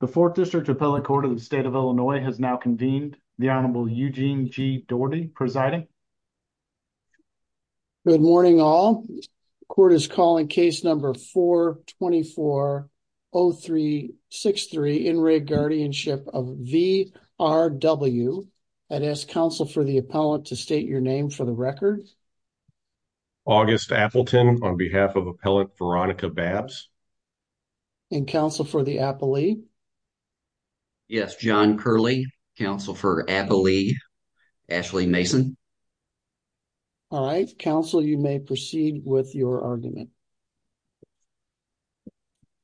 The 4th District Appellate Court of the State of Illinois has now convened, the Honorable Eugene G. Doherty presiding. Good morning all. Court is calling case number 424-0363, in rigged guardianship of V.R.W., and ask counsel for the appellant to state your name for the record. August Appleton on behalf of Appellant Veronica Babbs. And counsel for the appellee? Yes, John Curley. Counsel for appellee, Ashley Mason. All right. Counsel, you may proceed with your argument.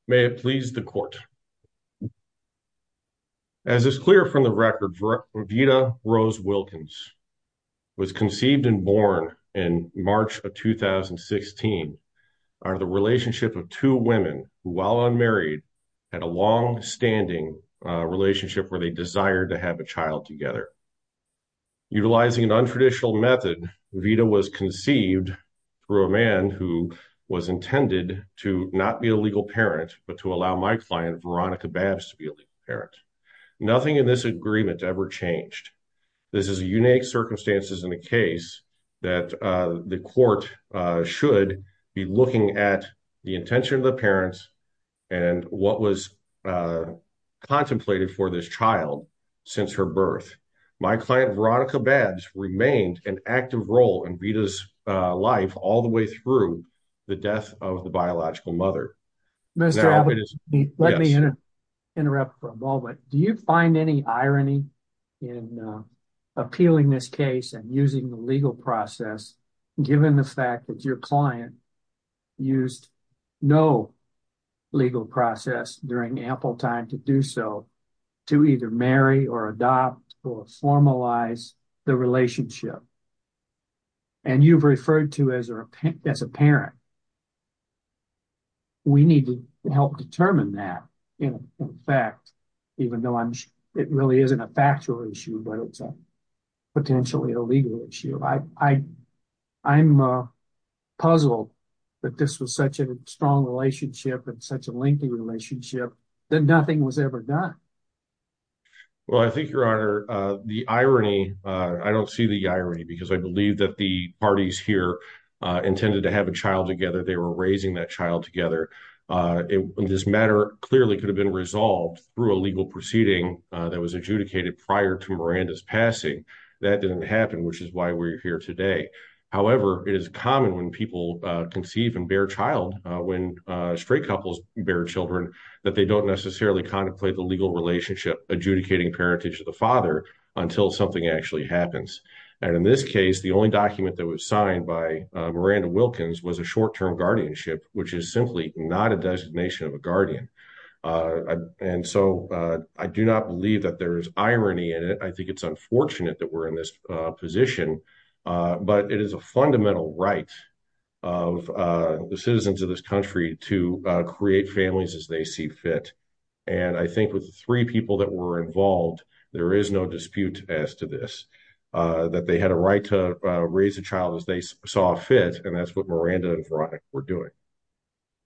May it please the court. As is clear from the record, Vida Rose Wilkins was conceived and born in March of 2016, out of the relationship of two women who, while unmarried, had a long-standing relationship where they desired to have a child together. Utilizing an untraditional method, Vida was conceived through a man who was intended to not be a legal parent, but to allow my client, Veronica Babbs, to be a legal parent. Nothing in this agreement ever changed. This is a unique circumstance in the case that the court should be looking at the intention of the parents and what was contemplated for this child since her birth. My client, Veronica Babbs, remained an active role in Vida's life all the way through the death of the biological mother. Mr. Albert, let me interrupt for a moment. Do you find any irony in appealing this case and using the legal process, given the fact that your client used no legal process during ample time to do so, to either marry or adopt or formalize the relationship? And you've referred to as a parent. We need to help determine that, in fact, even though it really isn't a factual issue, but it's potentially a legal issue. I'm puzzled that this was such a strong relationship and such a lengthy relationship, that nothing was ever done. Well, I think, Your Honor, the irony, I don't see the irony, because I believe that the parties here intended to have a child together. They were raising that child together. This matter clearly could have been resolved through a legal proceeding that was adjudicated prior to Miranda's passing. That didn't happen, which is why we're here today. However, it is common when people conceive and bear child, when straight couples bear children, that they don't necessarily contemplate the legal relationship adjudicating parentage to the father until something actually happens. And in this case, the only document that was signed by Miranda Wilkins was a short-term guardianship, which is simply not a designation of a guardian. And so I do not believe that there is irony in it. I think it's unfortunate that we're in this position, but it is a fundamental right of the citizens of this country to create families as they see fit. And I think with the three people that were involved, there is no dispute as to this, that they had a right to raise a child as they saw fit, and that's what Miranda and Veronica were doing.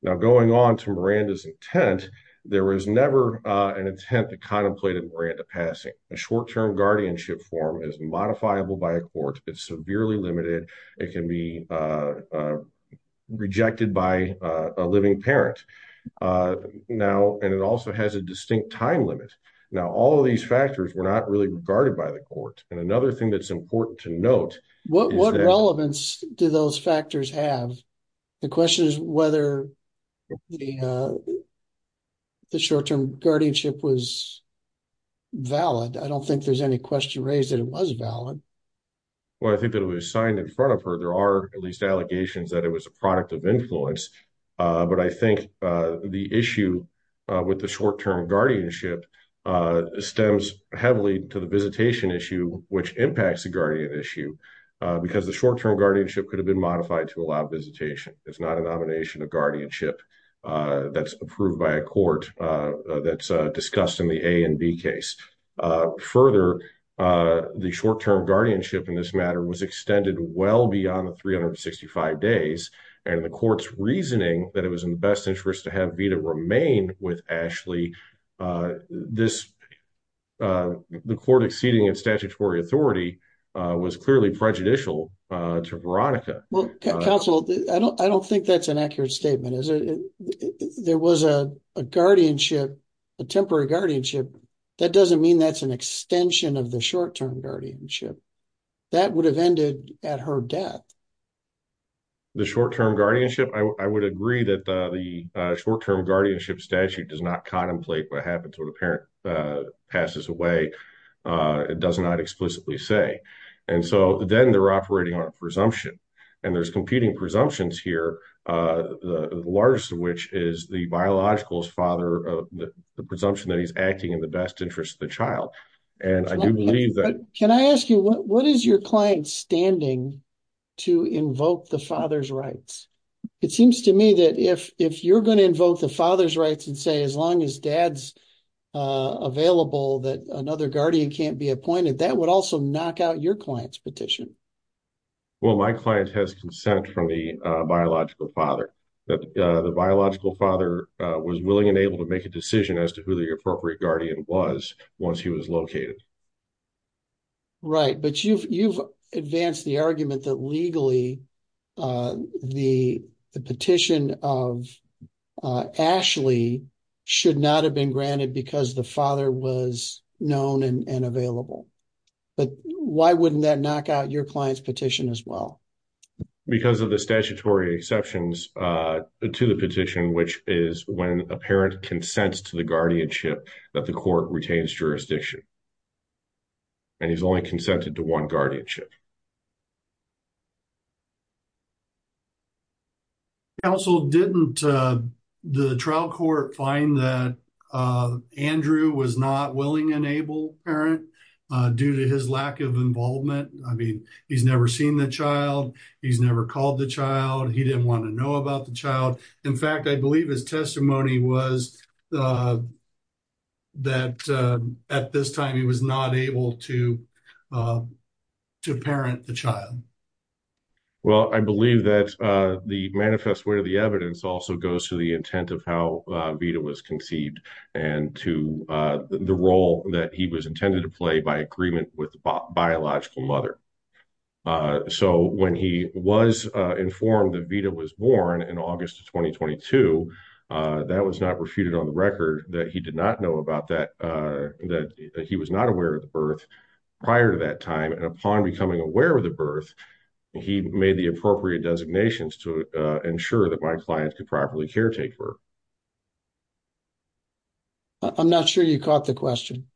Now, going on to Miranda's intent, there was never an attempt to contemplate a Miranda passing. A short-term guardianship form is modifiable by a court. It's severely limited. It can be rejected by a living parent. Now, and it also has a distinct time limit. Now, all of these factors were not really regarded by the court. And another thing that's important to note. What relevance do those factors have? The question is whether the short-term guardianship was valid. I don't think there's any question raised that it was valid. Well, I think that it was signed in front of her. There are at least allegations that it was a product of influence. But I think the issue with the short-term guardianship stems heavily to the visitation issue, which impacts the guardian issue because the short-term guardianship could have been modified to allow visitation. It's not a nomination of guardianship that's approved by a court that's discussed in the A and B case. Further, the short-term guardianship in this matter was extended well beyond the 365 days, and the court's reasoning that it was in the best interest to have Vida remain with Ashley, the court exceeding in statutory authority was clearly prejudicial to Veronica. Well, counsel, I don't think that's an accurate statement. There was a guardianship, a temporary guardianship. That doesn't mean that's an extension of the short-term guardianship. That would have ended at her death. The short-term guardianship? I would agree that the short-term guardianship statute does not contemplate what happens when a parent passes away. It does not explicitly say. And so then they're operating on a presumption, and there's competing presumptions here, the largest of which is the biological father, the presumption that he's acting in the best interest of the child. Can I ask you, what is your client's standing to invoke the father's rights? It seems to me that if you're going to invoke the father's rights and say as long as dad's available, that another guardian can't be appointed, that would also knock out your client's petition. Well, my client has consent from the biological father. The biological father was willing and able to make a decision as to who the appropriate guardian was once he was located. Right. But you've advanced the argument that legally the petition of Ashley should not have been granted because the father was known and available. But why wouldn't that knock out your client's petition as well? Because of the statutory exceptions to the petition, which is when a parent consents to the guardianship that the court retains jurisdiction. And he's only consented to one guardianship. Counsel, didn't the trial court find that Andrew was not willing and able parent due to his lack of involvement? I mean, he's never seen the child. He's never called the child. He didn't want to know about the child. In fact, I believe his testimony was that at this time he was not able to parent the child. Well, I believe that the manifest way of the evidence also goes to the intent of how Vita was conceived and to the role that he was intended to play by agreement with biological mother. So when he was informed that Vita was born in August of 2022, that was not refuted on the record that he did not know about that. He was not aware of the birth prior to that time. And upon becoming aware of the birth, he made the appropriate designations to ensure that my client could properly caretaker. I'm not sure you caught the question.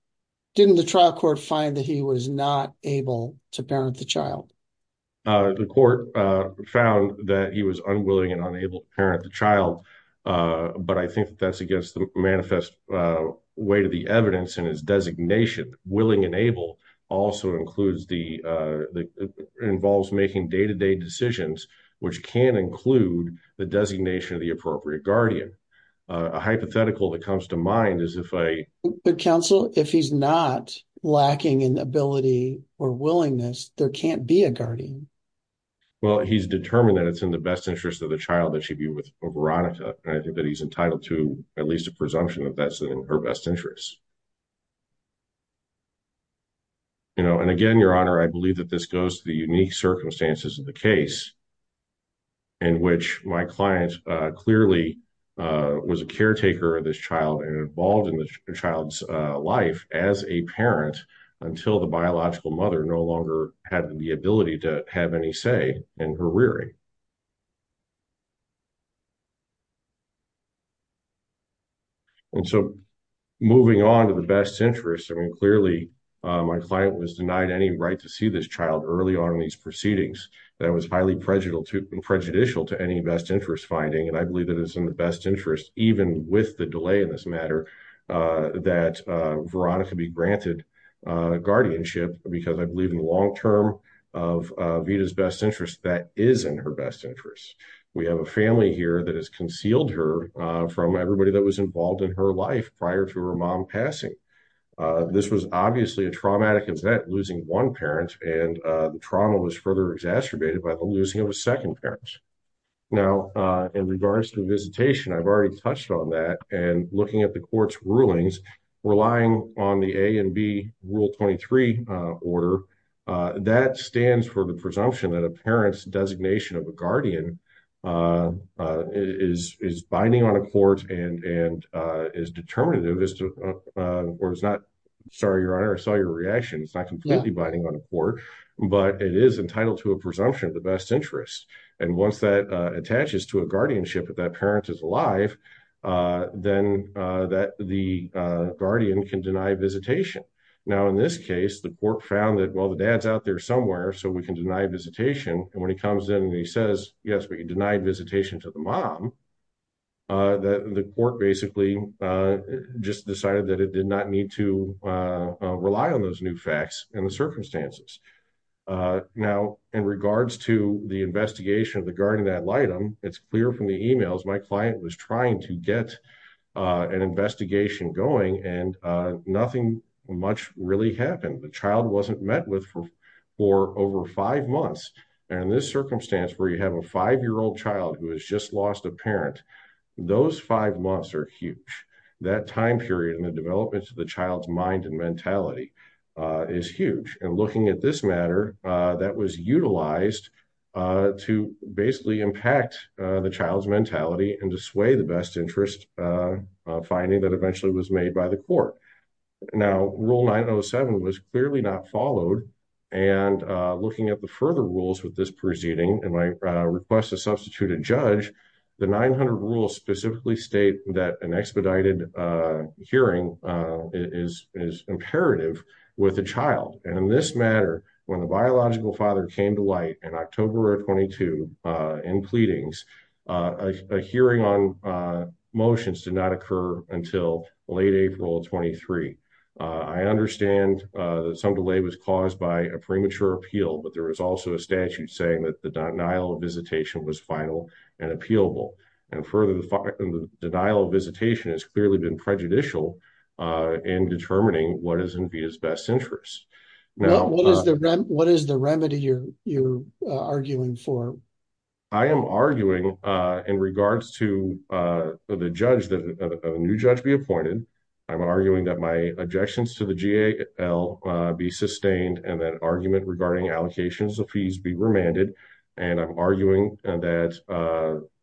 Didn't the trial court find that he was not able to parent the child? The court found that he was unwilling and unable to parent the child. But I think that's against the manifest way to the evidence in his designation. Willing and able also includes the involves making day to day decisions, which can include the designation of the appropriate guardian. A hypothetical that comes to mind is if I counsel if he's not lacking in ability or willingness, there can't be a guardian. Well, he's determined that it's in the best interest of the child that she'd be with Veronica. I think that he's entitled to at least a presumption of that's in her best interest. And again, your honor, I believe that this goes to the unique circumstances of the case. In which my client clearly was a caretaker of this child and involved in the child's life as a parent until the biological mother no longer had the ability to have any say in her rearing. And so moving on to the best interest, I mean, clearly, my client was denied any right to see this child early on in these proceedings. That was highly prejudicial to prejudicial to any best interest finding. And I believe that is in the best interest, even with the delay in this matter. That Veronica be granted guardianship because I believe in the long term of his best interest. That is in her best interest. We have a family here that has concealed her from everybody that was involved in her life prior to her mom passing. This was obviously a traumatic is that losing 1 parent and trauma was further exacerbated by the losing of a 2nd parents. Now, in regards to visitation, I've already touched on that and looking at the court's rulings. Relying on the A and B rule 23 order that stands for the presumption that a parent's designation of a guardian is binding on a court and is determinative. Or it's not sorry, your honor. I saw your reaction. It's not completely binding on a court, but it is entitled to a presumption of the best interest. And once that attaches to a guardianship, if that parent is alive, then that the guardian can deny visitation. Now, in this case, the court found that while the dad's out there somewhere, so we can deny visitation. And when he comes in and he says, yes, we can deny visitation to the mom. That the court basically just decided that it did not need to rely on those new facts and the circumstances. Now, in regards to the investigation of the garden, that item, it's clear from the emails. My client was trying to get an investigation going and nothing much really happened. The child wasn't met with for over 5 months. And this circumstance where you have a 5 year old child who has just lost a parent, those 5 months are huge. That time period and the development of the child's mind and mentality is huge. And looking at this matter, that was utilized to basically impact the child's mentality. And to sway the best interest finding that eventually was made by the court. Now, rule 907 was clearly not followed. And looking at the further rules with this proceeding and my request to substitute a judge. The 900 rules specifically state that an expedited hearing is imperative with a child. And in this matter, when the biological father came to light in October of 22 in pleadings. A hearing on motions did not occur until late April of 23. I understand that some delay was caused by a premature appeal. But there was also a statute saying that the denial of visitation was final and appealable. And further, the denial of visitation has clearly been prejudicial in determining what is in his best interest. What is the remedy you're arguing for? I am arguing in regards to the judge that a new judge be appointed. I'm arguing that my objections to the GAL be sustained and that argument regarding allocations of fees be remanded. And I'm arguing that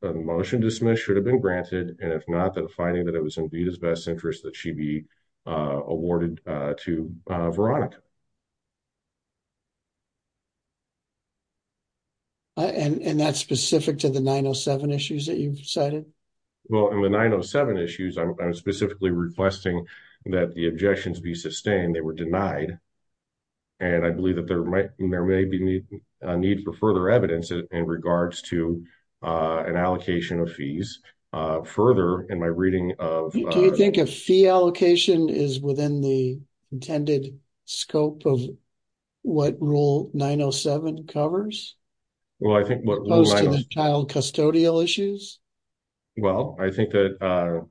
a motion dismissed should have been granted. And if not, then finding that it was indeed his best interest that she be awarded to Veronica. And that's specific to the 907 issues that you've cited. Well, in the 907 issues, I'm specifically requesting that the objections be sustained. And I believe that there may be a need for further evidence in regards to an allocation of fees. Further, in my reading of. Do you think a fee allocation is within the intended scope of what rule 907 covers? Well, I think what. Child custodial issues. Well, I think that,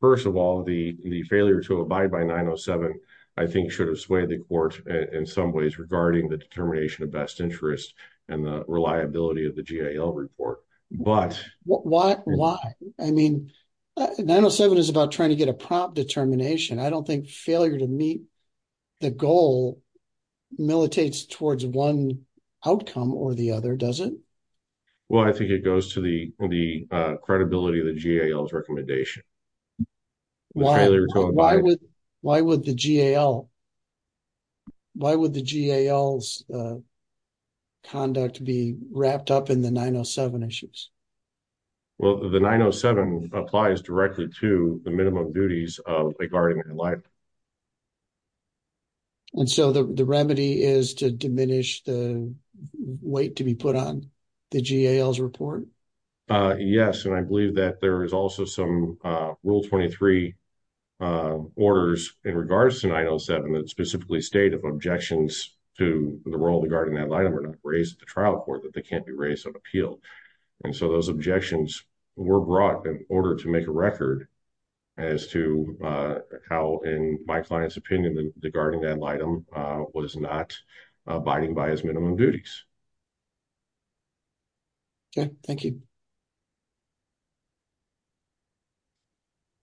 first of all, the failure to abide by 907, I think, should have swayed the court in some ways regarding the determination of best interest and the reliability of the GAL report. But why? I mean, 907 is about trying to get a prompt determination. I don't think failure to meet the goal militates towards one outcome or the other, does it? Well, I think it goes to the credibility of the GAL's recommendation. Why would the GAL. Why would the GAL's conduct be wrapped up in the 907 issues? Well, the 907 applies directly to the minimum duties of a guardian in life. And so the remedy is to diminish the weight to be put on the GAL's report? Yes, and I believe that there is also some rule 23. Orders in regards to 907 that specifically state of objections to the role of the guardian ad litem are not raised to trial court that they can't be raised on appeal. And so those objections were brought in order to make a record as to how, in my client's opinion, the guardian ad litem was not abiding by his minimum duties. Okay, thank you.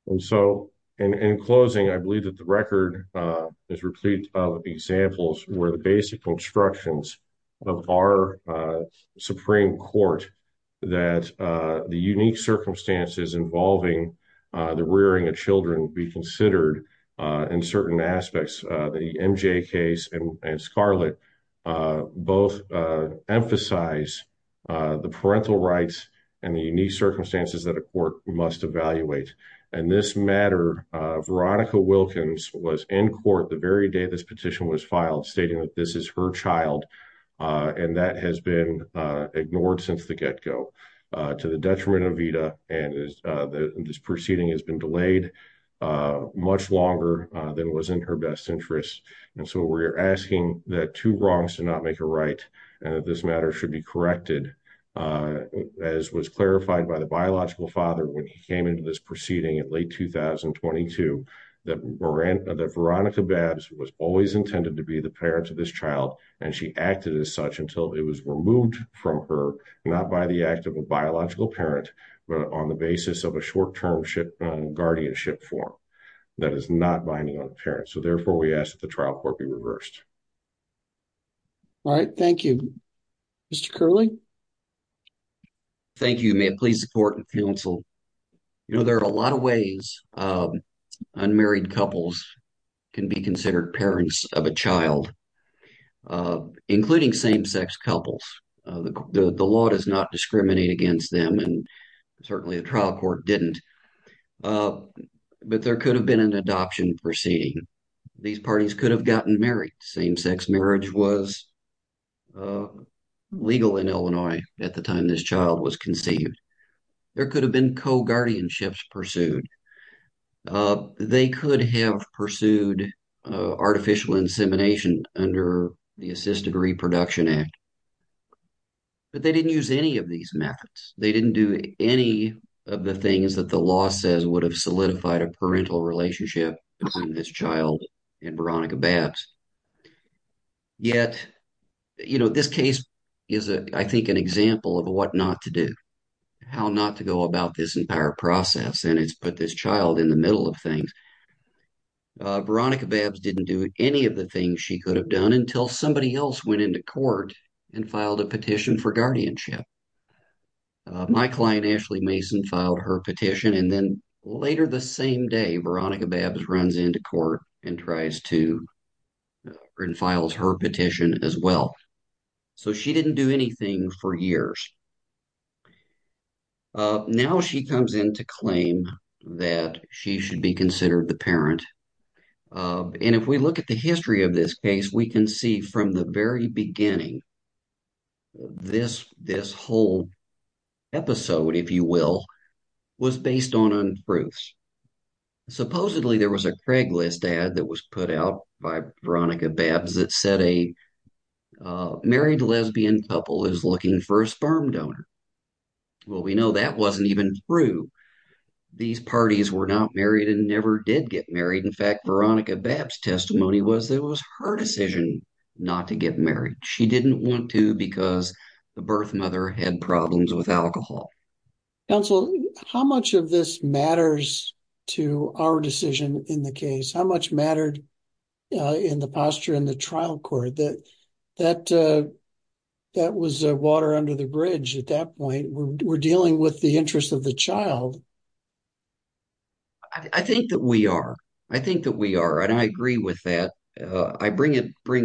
And so, in closing, I believe that the record is replete of examples where the basic instructions of our Supreme Court. That the unique circumstances involving the rearing of children be considered in certain aspects. The MJ case and Scarlett both emphasize the parental rights and the unique circumstances that a court must evaluate. And this matter, Veronica Wilkins was in court the very day this petition was filed, stating that this is her child. And that has been ignored since the get go. To the detriment of Vida, and this proceeding has been delayed much longer than was in her best interest. And so we're asking that two wrongs do not make a right, and that this matter should be corrected. As was clarified by the biological father when he came into this proceeding at late 2022. That Veronica Babbs was always intended to be the parent of this child, and she acted as such until it was removed from her. Not by the act of a biological parent, but on the basis of a short-term guardianship form that is not binding on the parent. So therefore, we ask that the trial court be reversed. All right, thank you. Mr. Curley? Thank you. May it please the court and counsel. You know, there are a lot of ways unmarried couples can be considered parents of a child, including same-sex couples. The law does not discriminate against them, and certainly the trial court didn't. But there could have been an adoption proceeding. These parties could have gotten married. Same-sex marriage was legal in Illinois at the time this child was conceived. There could have been co-guardianships pursued. They could have pursued artificial insemination under the Assisted Reproduction Act. But they didn't use any of these methods. They didn't do any of the things that the law says would have solidified a parental relationship between this child and Veronica Babbs. Yet, you know, this case is, I think, an example of what not to do. How not to go about this entire process, and it's put this child in the middle of things. Veronica Babbs didn't do any of the things she could have done until somebody else went into court and filed a petition for guardianship. My client, Ashley Mason, filed her petition, and then later the same day, Veronica Babbs runs into court and tries to, and files her petition as well. So she didn't do anything for years. Now she comes in to claim that she should be considered the parent. And if we look at the history of this case, we can see from the very beginning, this whole episode, if you will, was based on untruths. Supposedly there was a Craigslist ad that was put out by Veronica Babbs that said a married lesbian couple is looking for a sperm donor. Well, we know that wasn't even true. These parties were not married and never did get married. In fact, Veronica Babbs' testimony was that it was her decision not to get married. She didn't want to because the birth mother had problems with alcohol. Counsel, how much of this matters to our decision in the case? How much mattered in the posture in the trial court? That was water under the bridge at that point. We're dealing with the interest of the child. I think that we are. I think that we are, and I agree with that. I bring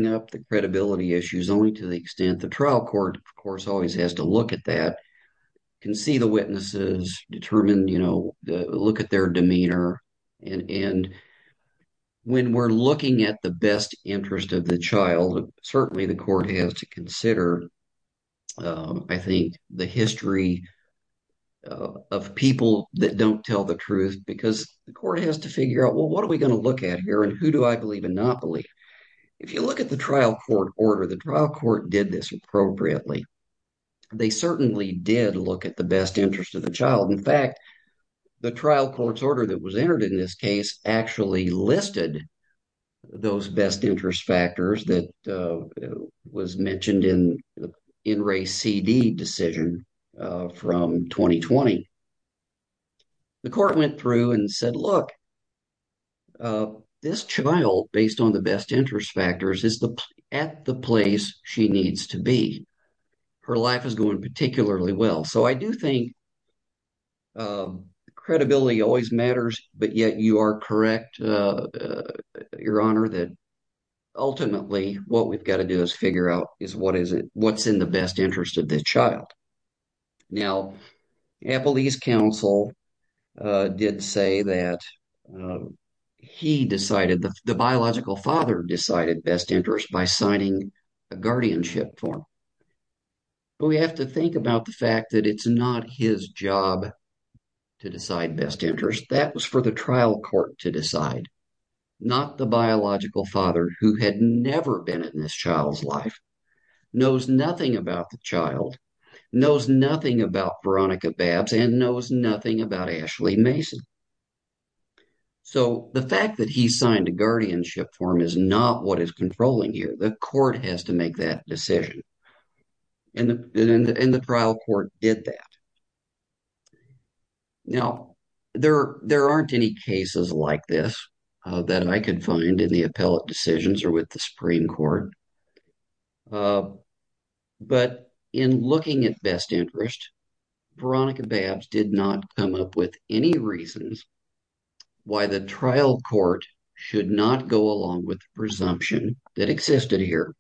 up the credibility issues only to the extent the trial court, of course, always has to look at that. They can see the witnesses, determine – look at their demeanor, and when we're looking at the best interest of the child, certainly the court has to consider, I think, the history of people that don't tell the truth because the court has to figure out, well, what are we going to look at here, and who do I believe and not believe? If you look at the trial court order, the trial court did this appropriately. They certainly did look at the best interest of the child. In fact, the trial court's order that was entered in this case actually listed those best interest factors that was mentioned in the In Re CD decision from 2020. The court went through and said, look, this child, based on the best interest factors, is at the place she needs to be. Her life is going particularly well, so I do think credibility always matters, but yet you are correct, Your Honor, that ultimately what we've got to do is figure out is what's in the best interest of the child. Now, Appellee's counsel did say that he decided – the biological father decided best interest by signing a guardianship form, but we have to think about the fact that it's not his job to decide best interest. That was for the trial court to decide, not the biological father who had never been in this child's life, knows nothing about the child, knows nothing about Veronica Babs, and knows nothing about Ashley Mason. So the fact that he signed a guardianship form is not what is controlling here. The court has to make that decision, and the trial court did that. Now, there aren't any cases like this that I could find in the appellate decisions or with the Supreme Court, but in looking at best interest, Veronica Babs did not come up with any reasons why the trial court should not go along with the presumption that existed here.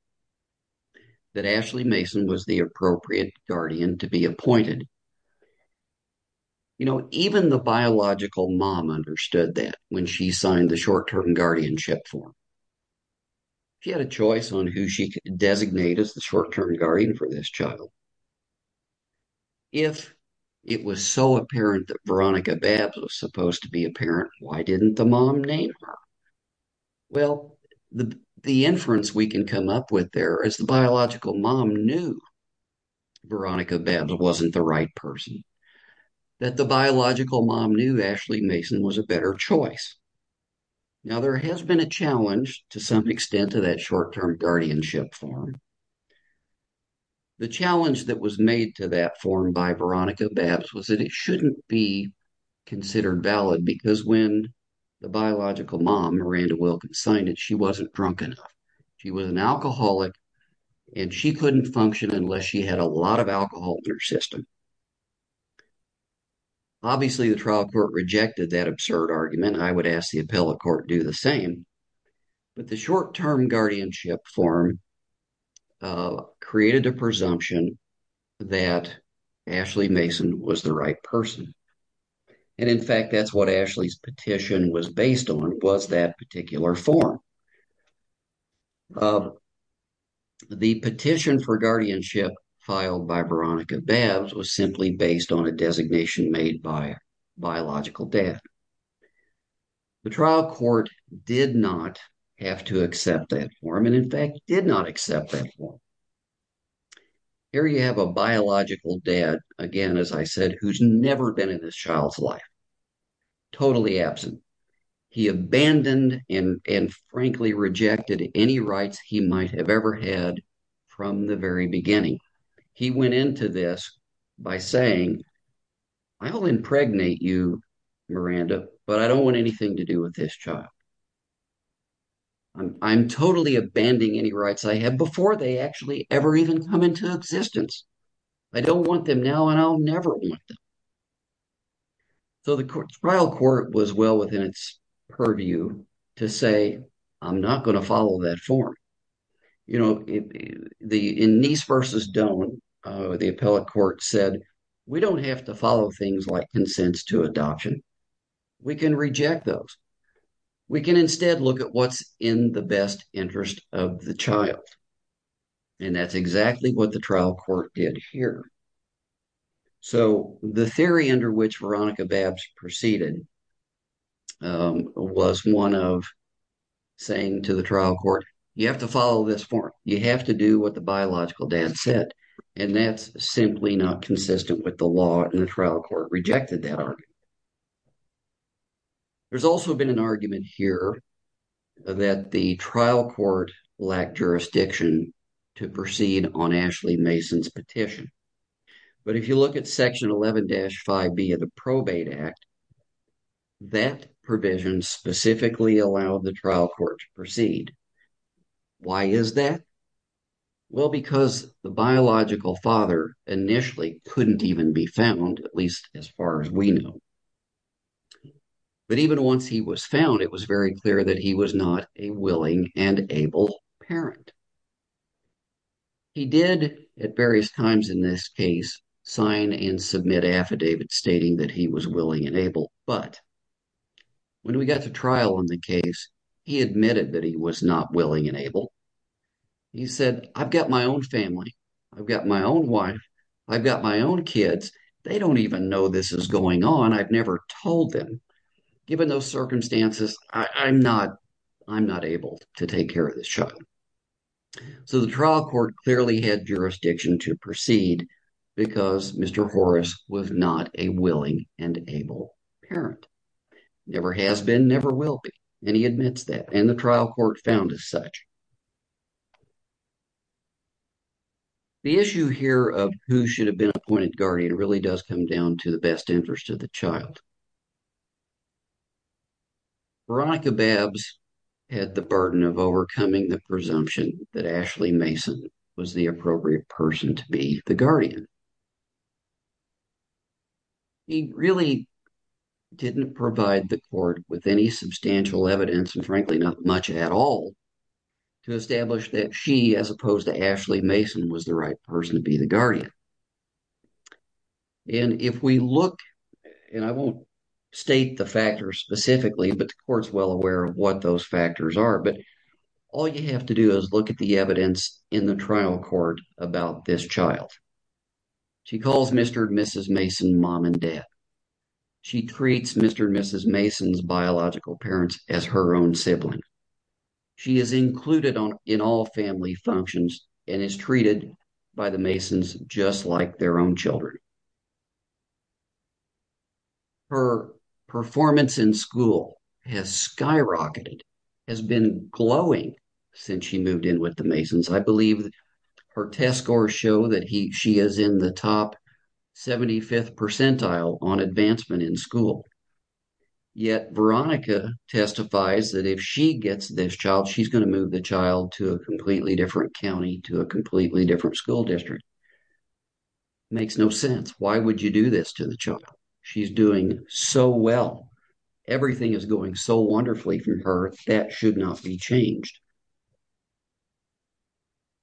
That Ashley Mason was the appropriate guardian to be appointed. You know, even the biological mom understood that when she signed the short-term guardianship form. She had a choice on who she could designate as the short-term guardian for this child. If it was so apparent that Veronica Babs was supposed to be a parent, why didn't the mom name her? Well, the inference we can come up with there is the biological mom knew Veronica Babs wasn't the right person, that the biological mom knew Ashley Mason was a better choice. Now, there has been a challenge to some extent to that short-term guardianship form. The challenge that was made to that form by Veronica Babs was that it shouldn't be considered valid because when the biological mom, Miranda Wilkins, signed it, she wasn't drunk enough. She was an alcoholic, and she couldn't function unless she had a lot of alcohol in her system. Obviously, the trial court rejected that absurd argument. I would ask the appellate court to do the same. But the short-term guardianship form created a presumption that Ashley Mason was the right person. And in fact, that's what Ashley's petition was based on, was that particular form. The petition for guardianship filed by Veronica Babs was simply based on a designation made by a biological dad. The trial court did not have to accept that form, and in fact, did not accept that form. Here you have a biological dad, again, as I said, who's never been in this child's life, totally absent. He abandoned and frankly rejected any rights he might have ever had from the very beginning. He went into this by saying, I'll impregnate you, Miranda, but I don't want anything to do with this child. I'm totally abandoning any rights I had before they actually ever even come into existence. I don't want them now, and I'll never want them. So the trial court was well within its purview to say, I'm not going to follow that form. You know, in Nice v. Doan, the appellate court said, we don't have to follow things like consents to adoption. We can reject those. We can instead look at what's in the best interest of the child. And that's exactly what the trial court did here. So the theory under which Veronica Babs proceeded was one of saying to the trial court, you have to follow this form. You have to do what the biological dad said, and that's simply not consistent with the law, and the trial court rejected that argument. There's also been an argument here that the trial court lacked jurisdiction to proceed on Ashley Mason's petition. But if you look at Section 11-5B of the Probate Act, that provision specifically allowed the trial court to proceed. Why is that? Well, because the biological father initially couldn't even be found, at least as far as we know. But even once he was found, it was very clear that he was not a willing and able parent. He did, at various times in this case, sign and submit affidavits stating that he was willing and able. But when we got to trial in the case, he admitted that he was not willing and able. He said, I've got my own family. I've got my own wife. I've got my own kids. They don't even know this is going on. I've never told them. Given those circumstances, I'm not able to take care of this child. So the trial court clearly had jurisdiction to proceed because Mr. Horace was not a willing and able parent. Never has been, never will be. And he admits that. And the trial court found as such. The issue here of who should have been appointed guardian really does come down to the best interest of the child. Veronica Babbs had the burden of overcoming the presumption that Ashley Mason was the appropriate person to be the guardian. He really didn't provide the court with any substantial evidence, and frankly, not much at all, to establish that she, as opposed to Ashley Mason, was the right person to be the guardian. And if we look, and I won't state the factors specifically, but the court's well aware of what those factors are. But all you have to do is look at the evidence in the trial court about this child. She calls Mr. and Mrs. Mason mom and dad. She treats Mr. and Mrs. Mason's biological parents as her own sibling. She is included in all family functions and is treated by the Masons just like their own children. Her performance in school has skyrocketed, has been glowing since she moved in with the Masons. I believe her test scores show that she is in the top 75th percentile on advancement in school. Yet, Veronica testifies that if she gets this child, she's going to move the child to a completely different county, to a completely different school district. It makes no sense. Why would you do this to the child? She's doing so well. Everything is going so wonderfully for her. That should not be changed.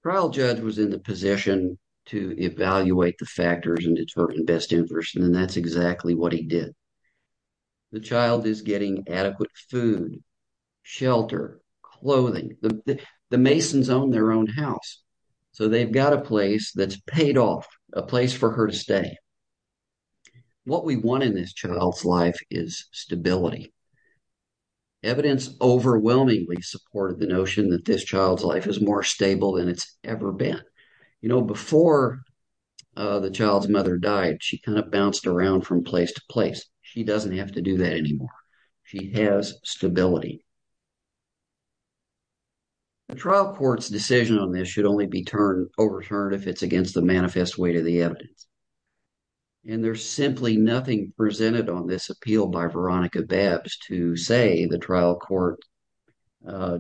The trial judge was in the position to evaluate the factors and determine best interest, and that's exactly what he did. The child is getting adequate food, shelter, clothing. The Masons own their own house. So they've got a place that's paid off, a place for her to stay. What we want in this child's life is stability. Evidence overwhelmingly supported the notion that this child's life is more stable than it's ever been. You know, before the child's mother died, she kind of bounced around from place to place. She doesn't have to do that anymore. She has stability. The trial court's decision on this should only be overturned if it's against the manifest weight of the evidence. And there's simply nothing presented on this appeal by Veronica Babbs to say the trial court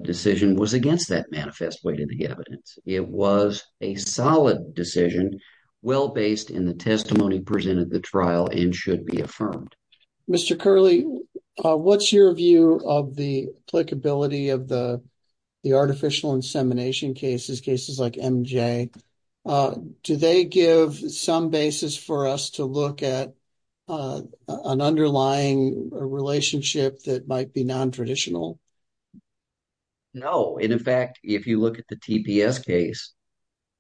decision was against that manifest weight of the evidence. It was a solid decision, well based in the testimony presented at the trial, and should be affirmed. Mr. Curley, what's your view of the applicability of the artificial insemination cases, cases like MJ? Do they give some basis for us to look at an underlying relationship that might be nontraditional? No, and in fact, if you look at the TPS case,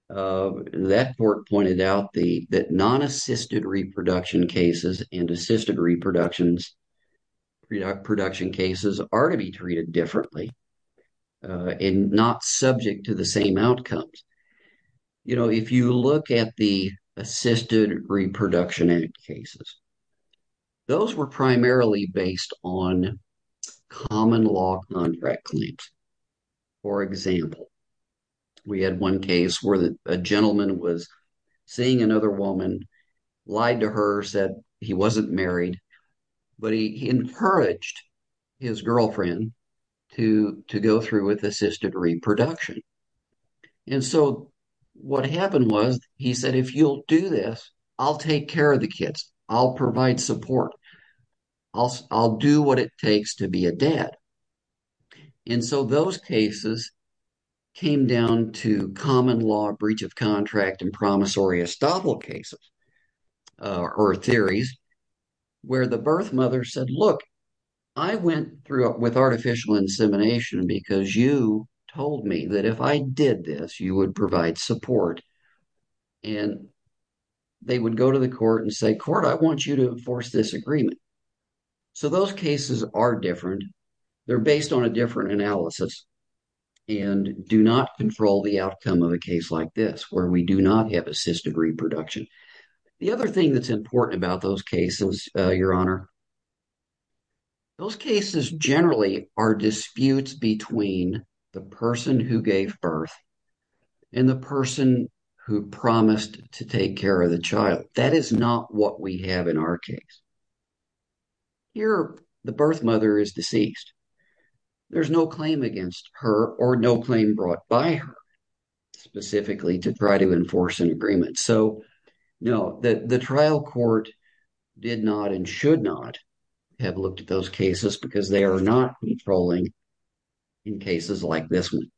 that court pointed out that non-assisted reproduction cases and assisted reproduction cases are to be treated differently, and not subject to the same outcomes. You know, if you look at the Assisted Reproduction Act cases, those were primarily based on common law contract claims. For example, we had one case where a gentleman was seeing another woman, lied to her, said he wasn't married, but he encouraged his girlfriend to go through with assisted reproduction. And so what happened was, he said, if you'll do this, I'll take care of the kids, I'll provide support, I'll do what it takes to be a dad. And so those cases came down to common law breach of contract and promissory estoppel cases, or theories, where the birth mother said, look, I went through with artificial insemination because you told me that if I did this, you would provide support. And they would go to the court and say, court, I want you to enforce this agreement. So those cases are different. They're based on a different analysis and do not control the outcome of a case like this, where we do not have assisted reproduction. The other thing that's important about those cases, Your Honor, those cases generally are disputes between the person who gave birth and the person who promised to take care of the child. That is not what we have in our case. Here, the birth mother is deceased. There's no claim against her or no claim brought by her specifically to try to enforce an agreement. So, no, the trial court did not and should not have looked at those cases because they are not controlling in cases like this one.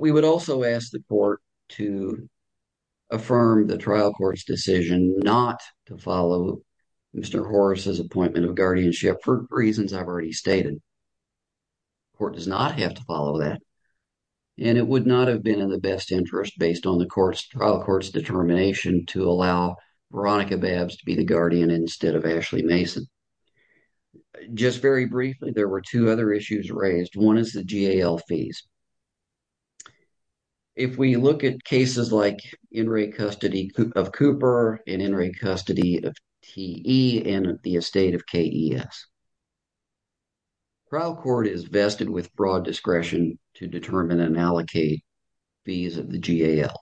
We would also ask the court to affirm the trial court's decision not to follow Mr. Horace's appointment of guardianship for reasons I've already stated. The court does not have to follow that. And it would not have been in the best interest based on the trial court's determination to allow Veronica Babbs to be the guardian instead of Ashley Mason. Just very briefly, there were two other issues raised. One is the GAL fees. If we look at cases like in-rate custody of Cooper and in-rate custody of T.E. and the estate of K.E.S., trial court is vested with broad discretion to determine and allocate fees of the GAL.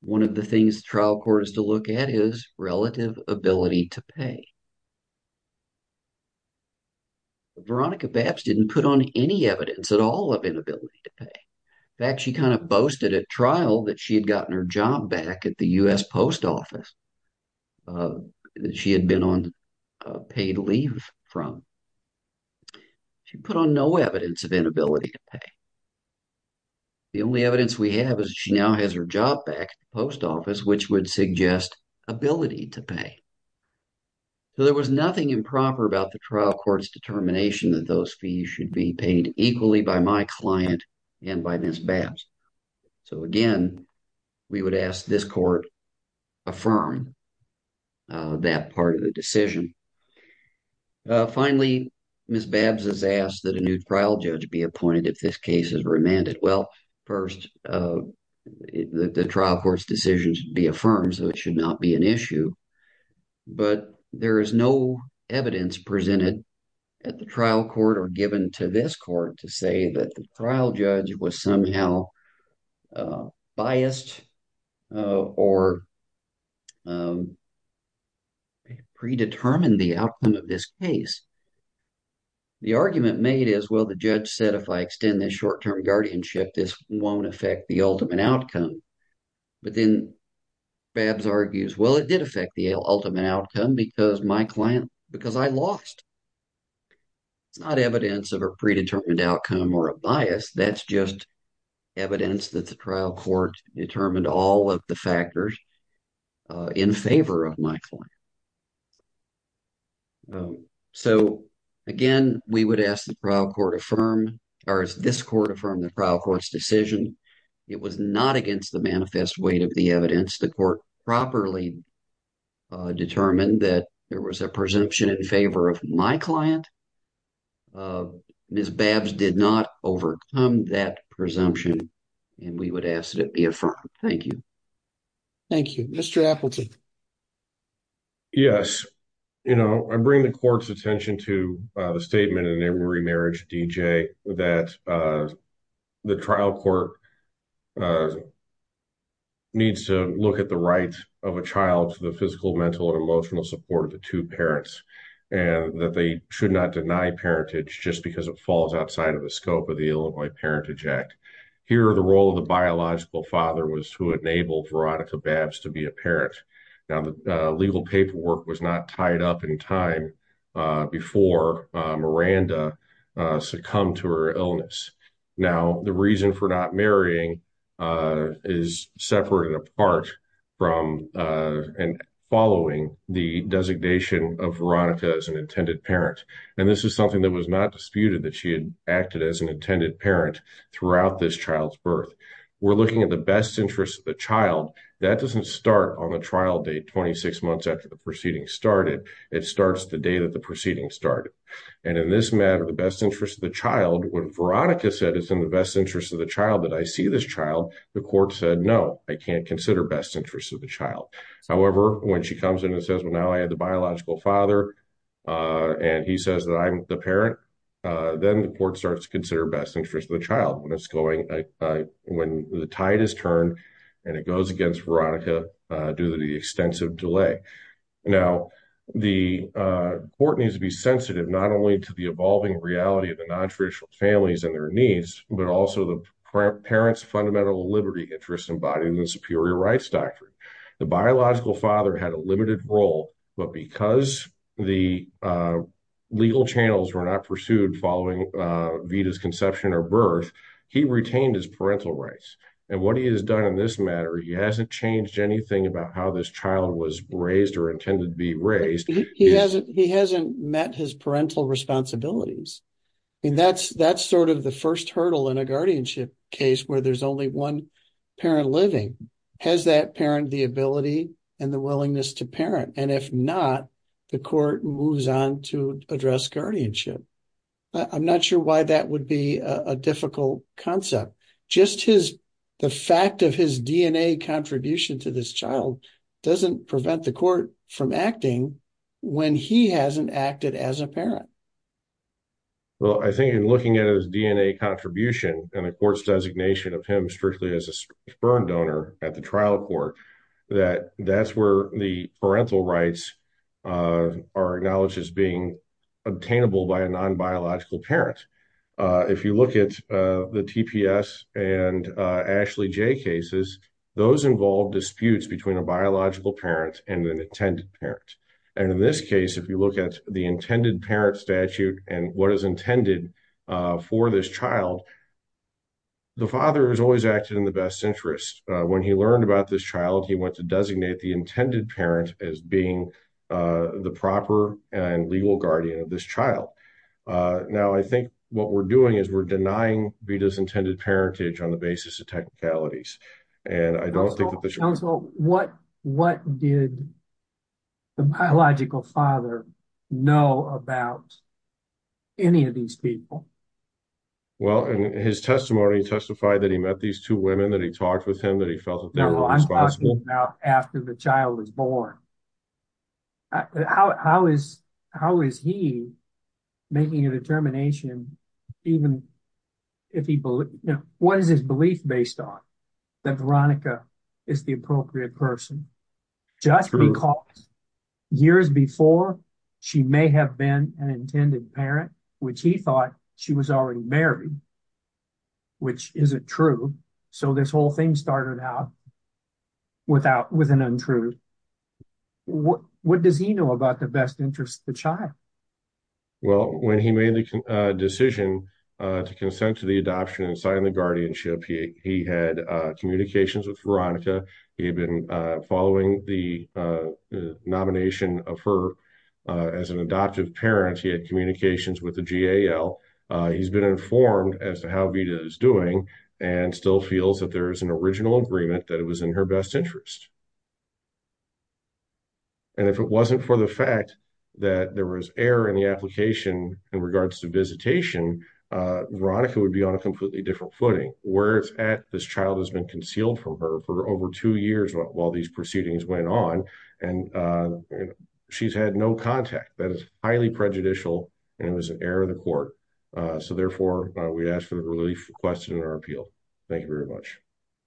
One of the things trial court is to look at is relative ability to pay. Veronica Babbs didn't put on any evidence at all of inability to pay. In fact, she kind of boasted at trial that she had gotten her job back at the U.S. Post Office that she had been on paid leave from. She put on no evidence of inability to pay. The only evidence we have is she now has her job back at the post office, which would suggest ability to pay. So there was nothing improper about the trial court's determination that those fees should be paid equally by my client and by Ms. Babbs. So again, we would ask this court affirm that part of the decision. Finally, Ms. Babbs has asked that a new trial judge be appointed if this case is remanded. Well, first, the trial court's decision should be affirmed, so it should not be an issue. But there is no evidence presented at the trial court or given to this court to say that the trial judge was somehow biased or predetermined the outcome of this case. The argument made is, well, the judge said, if I extend this short-term guardianship, this won't affect the ultimate outcome. But then Babbs argues, well, it did affect the ultimate outcome because my client, because I lost. It's not evidence of a predetermined outcome or a bias. That's just evidence that the trial court determined all of the factors in favor of my client. So, again, we would ask the trial court affirm, or this court affirm the trial court's decision. It was not against the manifest weight of the evidence. The court properly determined that there was a presumption in favor of my client. Ms. Babbs did not overcome that presumption, and we would ask that it be affirmed. Thank you. Thank you. Mr. Appleton. Yes. You know, I bring the court's attention to the statement in Emory Marriage D.J. that the trial court needs to look at the rights of a child to the physical, mental, and emotional support of the two parents, and that they should not deny parentage just because it falls outside of the scope of the Illinois Parentage Act. Here, the role of the biological father was to enable Veronica Babbs to be a parent. Now, the legal paperwork was not tied up in time before Miranda succumbed to her illness. Now, the reason for not marrying is separated apart from and following the designation of Veronica as an intended parent. And this is something that was not disputed, that she had acted as an intended parent throughout this child's birth. We're looking at the best interest of the child. That doesn't start on the trial date 26 months after the proceeding started. It starts the day that the proceeding started. And in this matter, the best interest of the child, when Veronica said it's in the best interest of the child that I see this child, the court said, no, I can't consider best interest of the child. However, when she comes in and says, well, now I had the biological father, and he says that I'm the parent, then the court starts to consider best interest of the child when the tide is turned, and it goes against Veronica due to the extensive delay. Now, the court needs to be sensitive, not only to the evolving reality of the nontraditional families and their needs, but also the parent's fundamental liberty interest embodied in the superior rights doctrine. The biological father had a limited role, but because the legal channels were not pursued following Vita's conception or birth, he retained his parental rights. And what he has done in this matter, he hasn't changed anything about how this child was raised or intended to be raised. He hasn't met his parental responsibilities. And that's sort of the first hurdle in a guardianship case where there's only one parent living. Has that parent the ability and the willingness to parent? And if not, the court moves on to address guardianship. I'm not sure why that would be a difficult concept. Just the fact of his DNA contribution to this child doesn't prevent the court from acting when he hasn't acted as a parent. Well, I think in looking at his DNA contribution and the court's designation of him strictly as a sperm donor at the trial court, that that's where the parental rights are acknowledged as being obtainable by a non-biological parent. If you look at the TPS and Ashley J cases, those involve disputes between a biological parent and an intended parent. And in this case, if you look at the intended parent statute and what is intended for this child, the father has always acted in the best interest. When he learned about this child, he went to designate the intended parent as being the proper and legal guardian of this child. Now, I think what we're doing is we're denying Vita's intended parentage on the basis of technicalities. Counsel, what did the biological father know about any of these people? Well, in his testimony, he testified that he met these two women, that he talked with him, that he felt that they were responsible. How is he making a determination? What is his belief based on? That Veronica is the appropriate person just because years before she may have been an intended parent, which he thought she was already married, which isn't true. So this whole thing started out with an untruth. What does he know about the best interest of the child? Well, when he made the decision to consent to the adoption and sign the guardianship, he had communications with Veronica. He had been following the nomination of her as an adoptive parent. He had communications with the GAL. He's been informed as to how Vita is doing and still feels that there is an original agreement that it was in her best interest. And if it wasn't for the fact that there was error in the application in regards to visitation, Veronica would be on a completely different footing. Where it's at, this child has been concealed from her for over two years while these proceedings went on, and she's had no contact. That is highly prejudicial, and it was an error of the court. So therefore, we'd ask for the relief requested in our appeal. Thank you very much.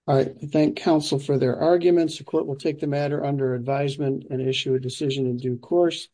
I thank counsel for their arguments. The court will take the matter under advisement and issue a decision in due course.